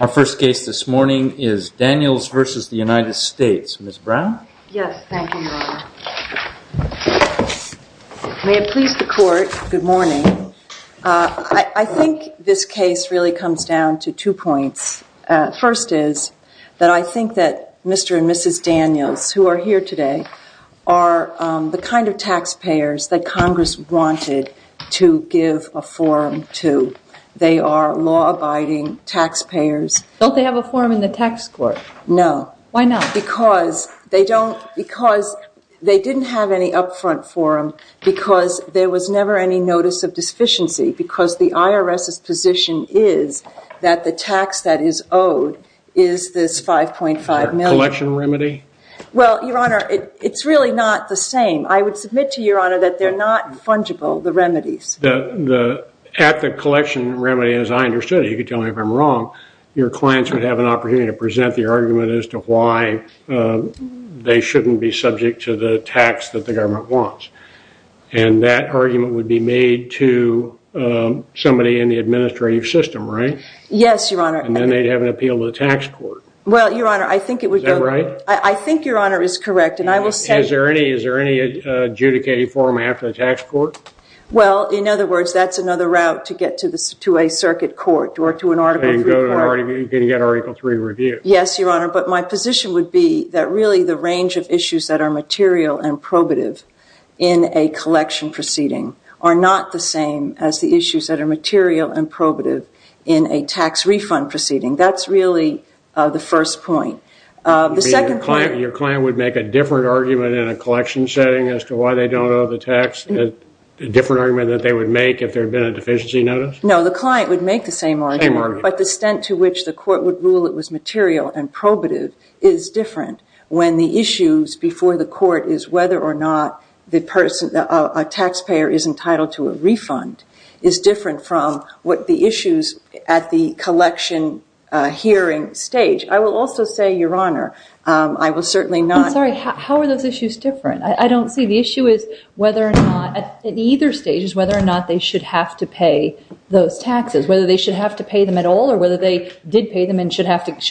Our first case this morning is Daniels v. United States. Ms. Brown? Yes, thank you, Your Honor. May it please the Court, good morning. I think this case really comes down to two points. First is that I think that Mr. and Mrs. Daniels, who are here today, are the kind of taxpayers that Congress wanted to give a forum to. They are law-abiding taxpayers. Don't they have a forum in the tax court? No. Why not? Because they didn't have any upfront forum because there was never any notice of deficiency because the IRS's position is that the tax that is owed is this $5.5 million. A collection remedy? Well, Your Honor, it's really not the same. I would submit to Your Honor that they're not fungible, the remedies. At the collection remedy, as I understood it, you can tell me if I'm wrong, your clients would have an opportunity to present the argument as to why they shouldn't be subject to the tax that the government wants. And that argument would be made to somebody in the administrative system, right? Yes, Your Honor. And then they'd have an appeal to the tax court. Well, Your Honor, I think it would go to the tax court. Is that right? I think Your Honor is correct. Is there any adjudicated forum after the tax court? Well, in other words, that's another route to get to a circuit court or to an Article III court. You can get Article III review. Yes, Your Honor, but my position would be that really the range of issues that are material and probative in a collection proceeding are not the same as the issues that are material and probative in a tax refund proceeding. That's really the first point. The second point... Your client would make a different argument in a collection setting as to why they don't owe the tax a different argument that they would make if there had been a deficiency notice? No, the client would make the same argument, but the extent to which the court would rule it was material and probative is different when the issues before the court is whether or not a taxpayer is entitled to a refund is different from what the issues at the collection hearing stage. I will also say, Your Honor, I will certainly not... I'm sorry, how are those issues different? I don't see the issue is whether or not, at either stage, is whether or not they should have to pay those taxes, whether they should have to pay them at all or whether they did pay them and should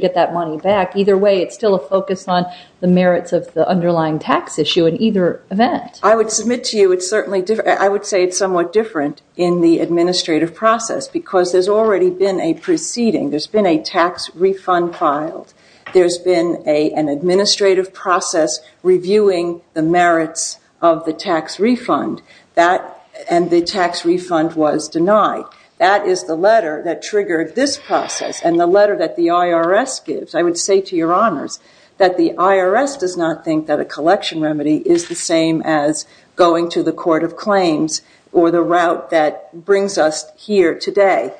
get that money back. Either way, it's still a focus on the merits of the underlying tax issue in either event. I would submit to you it's certainly different. I would say it's somewhat different in the administrative process because there's already been a proceeding. There's been a tax refund filed. There's been an administrative process reviewing the merits of the tax refund, and the tax refund was denied. That is the letter that triggered this process and the letter that the IRS gives. I would say to Your Honors that the IRS does not think that a collection remedy is the same as going to the court of claims or the route that brings us here today.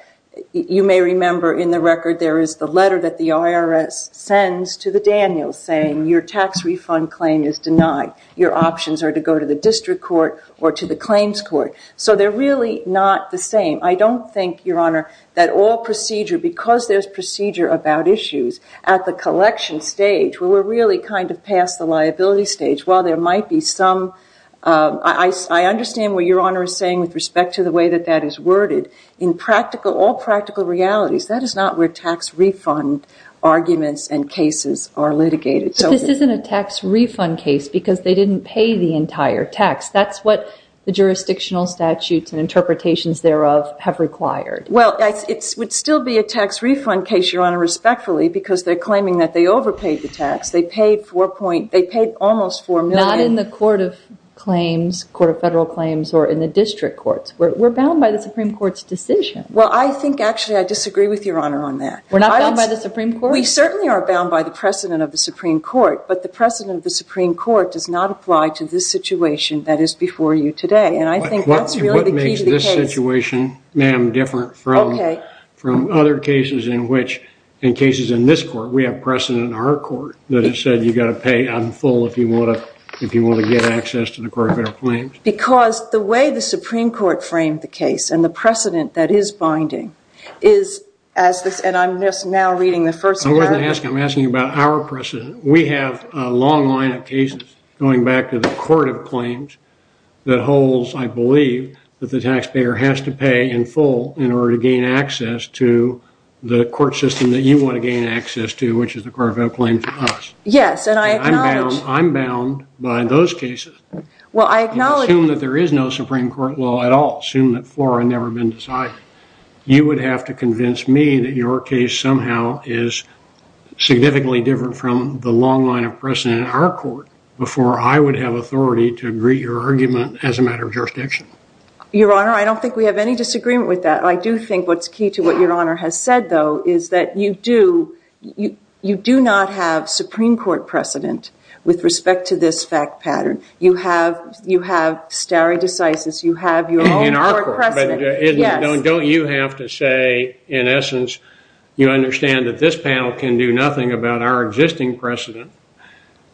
You may remember in the record there is the letter that the IRS sends to the Daniels saying your tax refund claim is denied. Your options are to go to the district court or to the claims court. So they're really not the same. I don't think, Your Honor, that all procedure, because there's procedure about issues, at the collection stage where we're really kind of past the liability stage, while there might be some... I understand what Your Honor is saying with respect to the way that that is worded. In all practical realities, that is not where tax refund arguments and cases are litigated. But this isn't a tax refund case because they didn't pay the entire tax. That's what the jurisdictional statutes and interpretations thereof have required. Well, it would still be a tax refund case, Your Honor, respectfully, because they're claiming that they overpaid the tax. They paid almost $4 million. Not in the court of claims, court of federal claims, or in the district courts. We're bound by the Supreme Court's decision. Well, I think, actually, I disagree with Your Honor on that. We're not bound by the Supreme Court? We certainly are bound by the precedent of the Supreme Court. But the precedent of the Supreme Court does not apply to this situation that is before you today. And I think that's really the key to the case. What makes this situation, ma'am, different from other cases in which, in cases in this court, we have precedent in our court that has said you've got to pay on full if you want to get access to the court of federal claims? Because the way the Supreme Court framed the case and the precedent that is binding is as this, and I'm just now reading the first paragraph. I wasn't asking, I'm asking you about our precedent. We have a long line of cases, going back to the court of claims, that holds, I believe, that the taxpayer has to pay in full in order to gain access to the court system that you want to gain access to, which is the court of federal claims to us. Yes, and I acknowledge. And I'm bound by those cases. Well, I acknowledge. Assume that there is no Supreme Court law at all. Assume that floor had never been decided. You would have to convince me that your case somehow is significantly different from the long line of precedent in our court before I would have authority to agree to your argument as a matter of jurisdiction. Your Honor, I don't think we have any disagreement with that. I do think what's key to what Your Honor has said, though, is that you do, you do not have Supreme Court precedent with respect to this fact pattern. You have stare decisis. You have your own court precedent. In our court. Yes. Don't you have to say, in essence, you understand that this panel can do nothing about our existing precedent.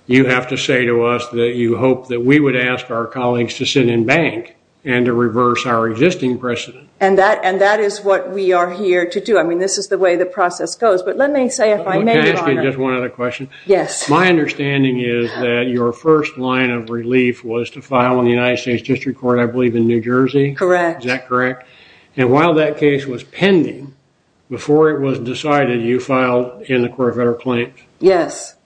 You have to say to us that you hope that we would ask our colleagues to sit in bank and to reverse our existing precedent. And that is what we are here to do. I mean, this is the way the process goes. But let me say, if I may, Your Honor. Can I ask you just one other question? Yes. My understanding is that your first line of relief was to file in the United States District Court, I believe, in New Jersey? Correct. Is that correct? And while that case was pending, before it was decided, you filed in the Court of Federal Claims? Yes.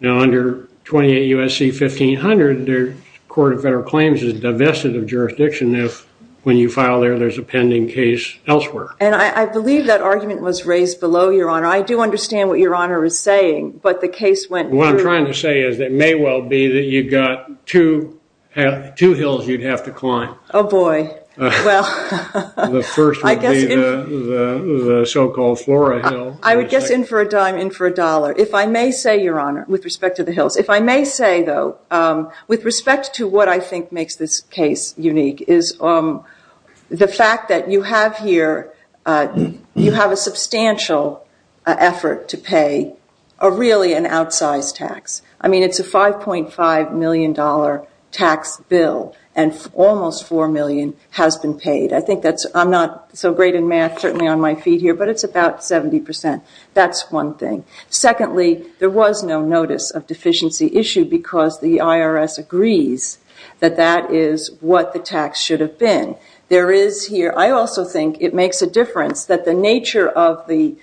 Now, under 28 U.S.C. 1500, the Court of Federal Claims is divested of jurisdiction if, when you file there, there's a pending case elsewhere. And I believe that argument was raised below, Your Honor. I do understand what Your Honor is saying, but the case went through. What I'm trying to say is it may well be that you've got two hills you'd have to climb. Oh, boy. Well. The first would be the so-called Flora Hill. I would guess in for a dime, in for a dollar. If I may say, though, with respect to what I think makes this case unique is the fact that you have here, you have a substantial effort to pay really an outsized tax. I mean, it's a $5.5 million tax bill, and almost $4 million has been paid. I'm not so great in math, certainly on my feet here, but it's about 70%. That's one thing. Secondly, there was no notice of deficiency issued because the IRS agrees that that is what the tax should have been. There is here. I also think it makes a difference that the nature of the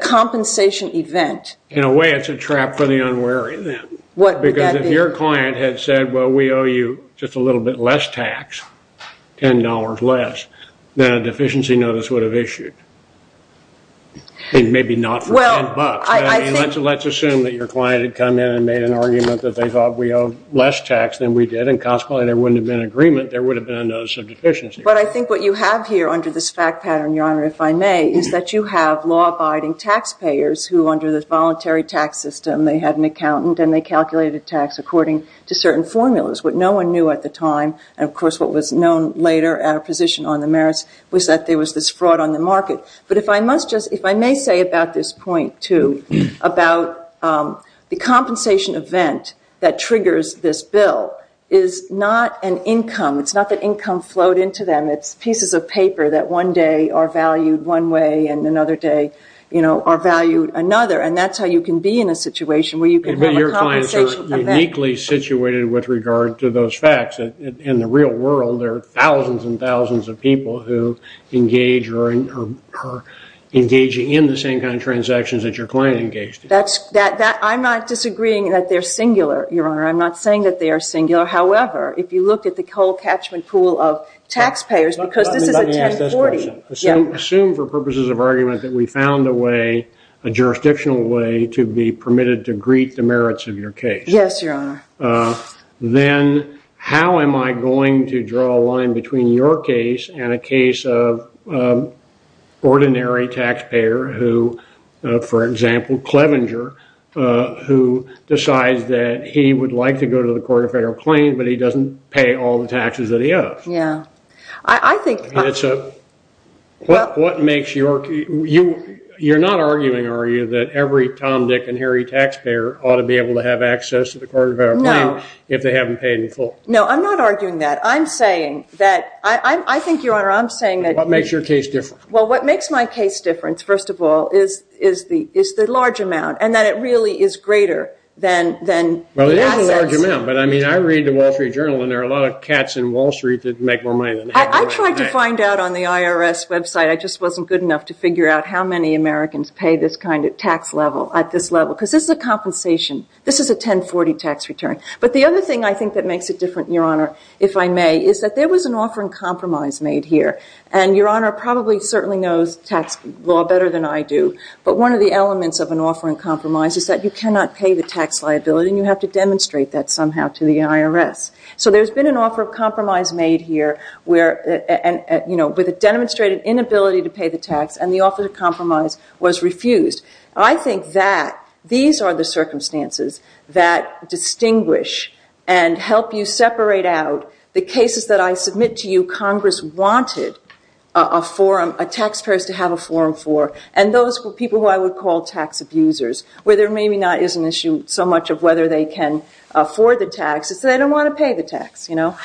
compensation event. In a way, it's a trap for the unwary then. What would that be? Because if your client had said, well, we owe you just a little bit less tax, $10 less, then a deficiency notice would have issued. Maybe not for $10. Let's assume that your client had come in and made an argument that they thought we owe less tax than we did. And consequently, there wouldn't have been an agreement. There would have been a notice of deficiency. But I think what you have here under this fact pattern, Your Honor, if I may, is that you have law-abiding taxpayers who under this voluntary tax system, they had an accountant, and they calculated tax according to certain formulas. What no one knew at the time, and of course what was known later at a position on the merits, was that there was this fraud on the market. But if I may say about this point, too, about the compensation event that triggers this bill is not an income. It's not that income flowed into them. It's pieces of paper that one day are valued one way and another day are valued another. And that's how you can be in a situation where you can have a compensation event. But your clients are uniquely situated with regard to those facts. In the real world, there are thousands and thousands of people who engage or are engaging in the same kind of transactions that your client engaged in. I'm not disagreeing that they're singular, Your Honor. I'm not saying that they are singular. However, if you look at the whole catchment pool of taxpayers, because this is a 1040. Assume for purposes of argument that we found a way, a jurisdictional way, to be permitted to greet the merits of your case. Yes, Your Honor. Then how am I going to draw a line between your case and a case of ordinary taxpayer who, for example, Clevenger, who decides that he would like to go to the Court of Federal Claims, but he doesn't pay all the taxes that he owes? Yeah. It's a – what makes your – you're not arguing, are you, that every Tom, Dick, and Harry taxpayer ought to be able to have access to the Court of Federal Claims if they haven't paid in full? No, I'm not arguing that. I'm saying that – I think, Your Honor, I'm saying that – What makes your case different? Well, what makes my case different, first of all, is the large amount and that it really is greater than the assets. Well, it is a large amount, but, I mean, I read the Wall Street Journal, and there are a lot of cats in Wall Street that make more money than Harry. I tried to find out on the IRS website. I just wasn't good enough to figure out how many Americans pay this kind of tax level at this level because this is a compensation. This is a 1040 tax return. But the other thing I think that makes it different, Your Honor, if I may, is that there was an offer in compromise made here, and Your Honor probably certainly knows tax law better than I do, but one of the elements of an offer in compromise is that you cannot pay the tax liability, and you have to demonstrate that somehow to the IRS. So there's been an offer of compromise made here with a demonstrated inability to pay the tax, and the offer of compromise was refused. I think that these are the circumstances that distinguish and help you separate out the cases that I submit to you Congress wanted a forum, a tax payers to have a forum for, and those were people who I would call tax abusers, where there maybe not is an issue so much of whether they can afford the tax. It's that they don't want to pay the tax, you know.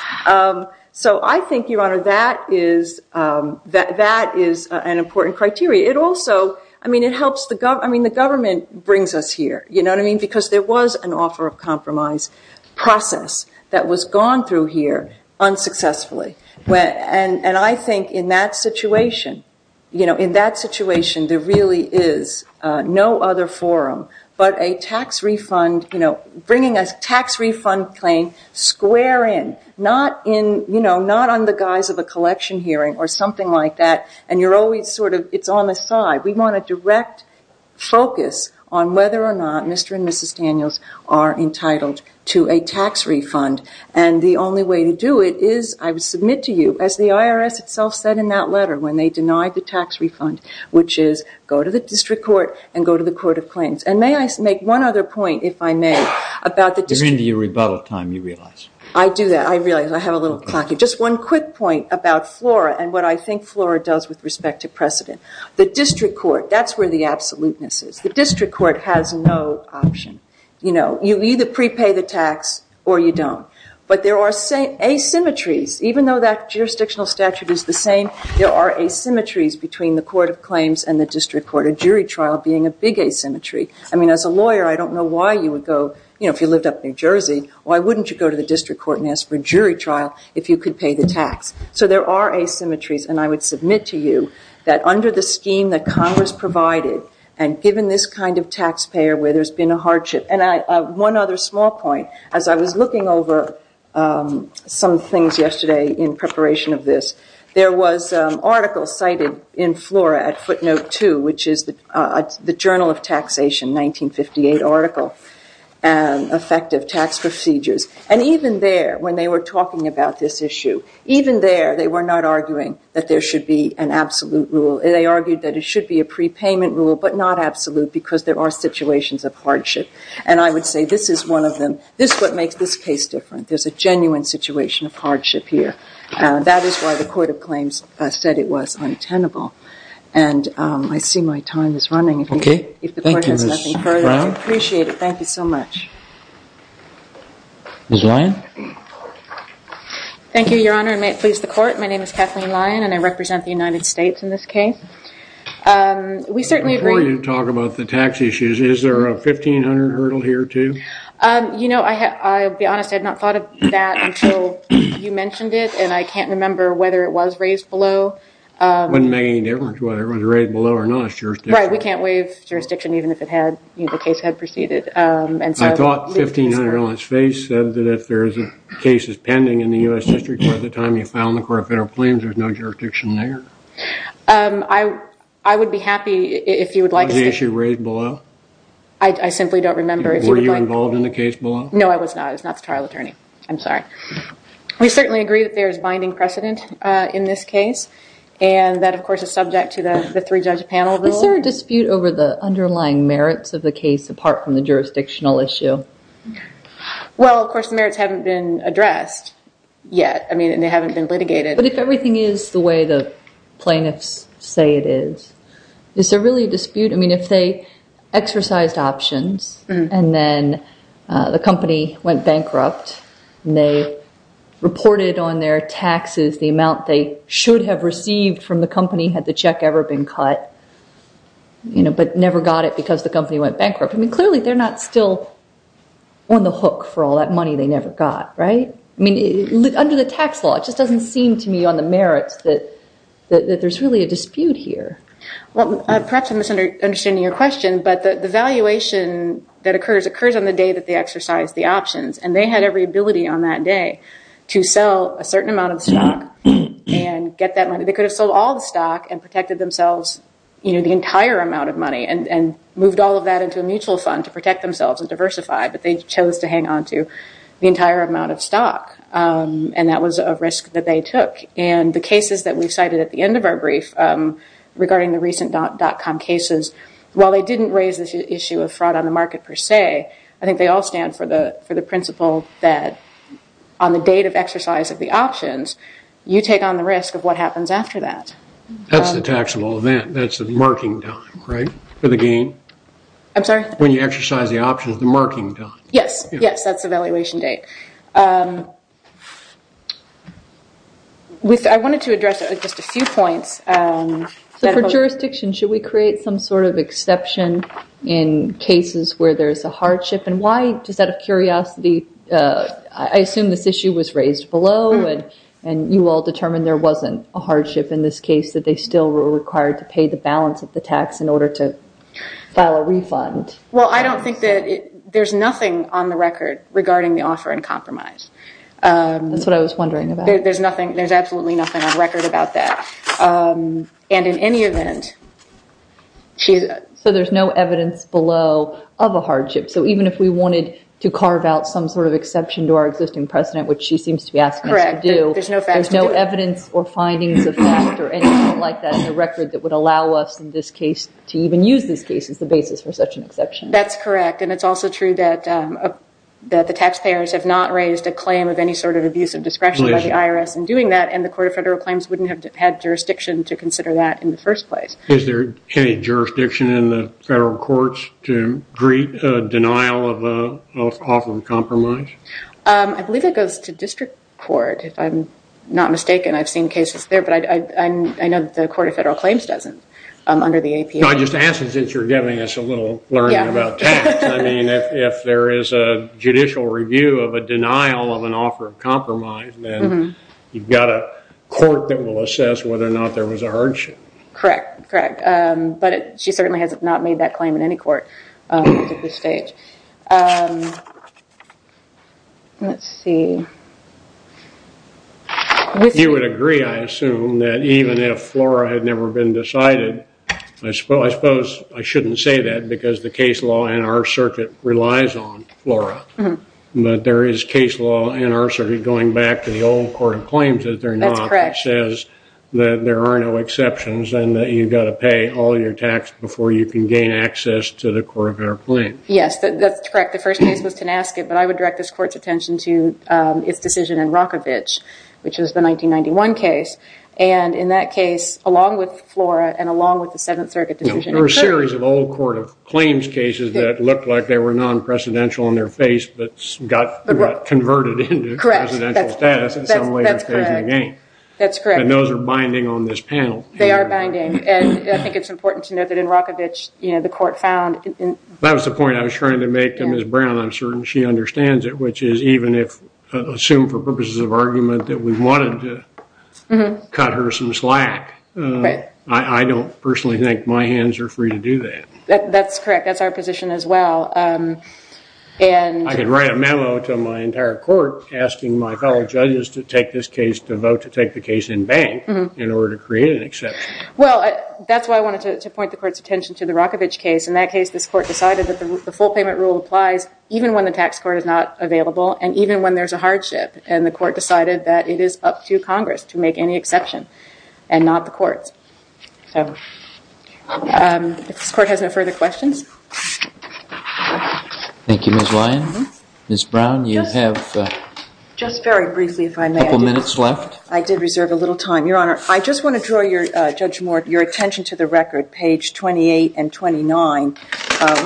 So I think, Your Honor, that is an important criteria. It also, I mean, it helps the government. I mean, the government brings us here, you know what I mean, because there was an offer of compromise process that was gone through here unsuccessfully, and I think in that situation, you know, in that situation, there really is no other forum but a tax refund, you know, bringing a tax refund claim square in, not in, you know, not on the guise of a collection hearing or something like that, and you're always sort of, it's on the side. We want a direct focus on whether or not Mr. and Mrs. Daniels are entitled to a tax refund, and the only way to do it is I would submit to you, as the IRS itself said in that letter when they denied the tax refund, which is go to the district court and go to the court of claims, and may I make one other point, if I may, about the district court. You're into your rebuttal time, you realize. I do that. I realize I have a little clock. Just one quick point about FLORA and what I think FLORA does with respect to precedent. The district court, that's where the absoluteness is. The district court has no option. You know, you either prepay the tax or you don't, but there are asymmetries. Even though that jurisdictional statute is the same, there are asymmetries between the court of claims and the district court. A jury trial being a big asymmetry. I mean, as a lawyer, I don't know why you would go, you know, if you lived up in New Jersey, why wouldn't you go to the district court and ask for a jury trial if you could pay the tax? So there are asymmetries, and I would submit to you that under the scheme that Congress provided and given this kind of taxpayer where there's been a hardship. And one other small point. As I was looking over some things yesterday in preparation of this, there was an article cited in FLORA at footnote two, which is the Journal of Taxation, 1958 article, effective tax procedures. And even there, when they were talking about this issue, even there they were not arguing that there should be an absolute rule. They argued that it should be a prepayment rule, but not absolute, because there are situations of hardship. And I would say this is one of them. This is what makes this case different. There's a genuine situation of hardship here. That is why the court of claims said it was untenable. And I see my time is running. Okay. Thank you, Ms. Brown. I appreciate it. Thank you so much. Ms. Lyon. Thank you, Your Honor, and may it please the court. My name is Kathleen Lyon, and I represent the United States in this case. We certainly agree. Before you talk about the tax issues, is there a 1500 hurdle here, too? You know, I'll be honest. I had not thought of that until you mentioned it, and I can't remember whether it was raised below. It wouldn't make any difference whether it was raised below or not. It's jurisdiction. Right. We can't waive jurisdiction even if the case had proceeded. I thought 1500 on its face said that if there's a case that's pending in the U.S. District Court at the time you filed the court of federal claims, there's no jurisdiction there? I would be happy if you would like to speak. Was the issue raised below? I simply don't remember. Were you involved in the case below? No, I was not. I was not the trial attorney. I'm sorry. We certainly agree that there is binding precedent in this case, and that, of course, is subject to the three-judge panel rule. Is there a dispute over the underlying merits of the case apart from the jurisdictional issue? Well, of course, the merits haven't been addressed yet, and they haven't been litigated. But if everything is the way the plaintiffs say it is, is there really a dispute? I mean, if they exercised options and then the company went bankrupt and they reported on their taxes the amount they should have received from the company had the check ever been cut but never got it because the company went bankrupt, I mean, clearly they're not still on the hook for all that money they never got, right? I mean, under the tax law, it just doesn't seem to me on the merits that there's really a dispute here. Well, perhaps I'm misunderstanding your question, but the valuation that occurs occurs on the day that they exercise the options, and they had every ability on that day to sell a certain amount of stock and get that money. They could have sold all the stock and protected themselves, you know, the entire amount of money and moved all of that into a mutual fund to protect themselves and diversify, but they chose to hang on to the entire amount of stock, and that was a risk that they took. And the cases that we cited at the end of our brief regarding the recent dot-com cases, while they didn't raise this issue of fraud on the market per se, I think they all stand for the principle that on the date of exercise of the options, you take on the risk of what happens after that. That's the taxable event. That's the marking time, right, for the gain? I'm sorry? When you exercise the options, the marking time. Yes. Yes, that's the valuation date. I wanted to address just a few points. So for jurisdiction, should we create some sort of exception in cases where there's a hardship? And why, just out of curiosity, I assume this issue was raised below, and you all determined there wasn't a hardship in this case, that they still were required to pay the balance of the tax in order to file a refund. Well, I don't think that there's nothing on the record regarding the offer in compromise. That's what I was wondering about. There's absolutely nothing on record about that. And in any event, she's... So there's no evidence below of a hardship. So even if we wanted to carve out some sort of exception to our existing precedent, which she seems to be asking us to do, there's no evidence or findings of that or anything like that on the record that would allow us, in this case, to even use this case as the basis for such an exception. That's correct. And it's also true that the taxpayers have not raised a claim of any sort of abuse of discretion by the IRS in doing that, and the Court of Federal Claims wouldn't have had jurisdiction to consider that in the first place. Is there any jurisdiction in the federal courts to deny an offer in compromise? I believe it goes to district court, if I'm not mistaken. I've seen cases there, but I know that the Court of Federal Claims doesn't under the APA. I just ask that since you're giving us a little learning about tax, I mean, if there is a judicial review of a denial of an offer of compromise, then you've got a court that will assess whether or not there was a hardship. Correct, correct. But she certainly has not made that claim in any court up to this stage. Let's see. You would agree, I assume, that even if FLORA had never been decided, I suppose I shouldn't say that because the case law in our circuit relies on FLORA, but there is case law in our circuit going back to the old Court of Claims that they're not. That's correct. and that you've got to pay all your tax before you can gain access to the Court of Federal Claims. Yes, that's correct. The first case was Tenasket, but I would direct this Court's attention to its decision in Rockovich, which is the 1991 case. And in that case, along with FLORA and along with the Seventh Circuit decision, there were a series of old Court of Claims cases that looked like they were non-presidential in their face but got converted into presidential status at some later stage in the game. That's correct. And those are binding on this panel. They are binding. And I think it's important to note that in Rockovich, you know, the Court found... That was the point I was trying to make to Ms. Brown. I'm certain she understands it, which is even if, assumed for purposes of argument, that we wanted to cut her some slack, I don't personally think my hands are free to do that. That's correct. That's our position as well. I can write a memo to my entire Court asking my fellow judges to take this case, to vote to take the case in bank in order to create an exception. Well, that's why I wanted to point the Court's attention to the Rockovich case. In that case, this Court decided that the full payment rule applies even when the tax court is not available and even when there's a hardship. And the Court decided that it is up to Congress to make any exception and not the courts. So if this Court has no further questions. Thank you, Ms. Lyon. Ms. Brown, you have... Just very briefly, if I may. A couple minutes left. I did reserve a little time. Your Honor, I just want to draw your attention to the record, page 28 and 29,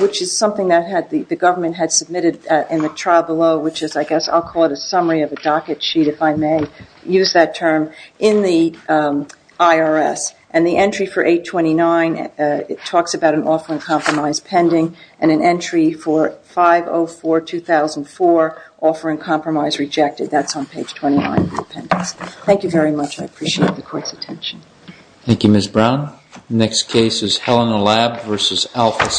which is something that the government had submitted in the trial below, which is I guess I'll call it a summary of a docket sheet, if I may use that term, in the IRS. And the entry for 829, it talks about an offer in compromise pending and an entry for 504-2004, offer in compromise rejected. That's on page 29 of the appendix. Thank you very much. I appreciate the Court's attention. Thank you, Ms. Brown. The next case is Helena Lab v. Alphys.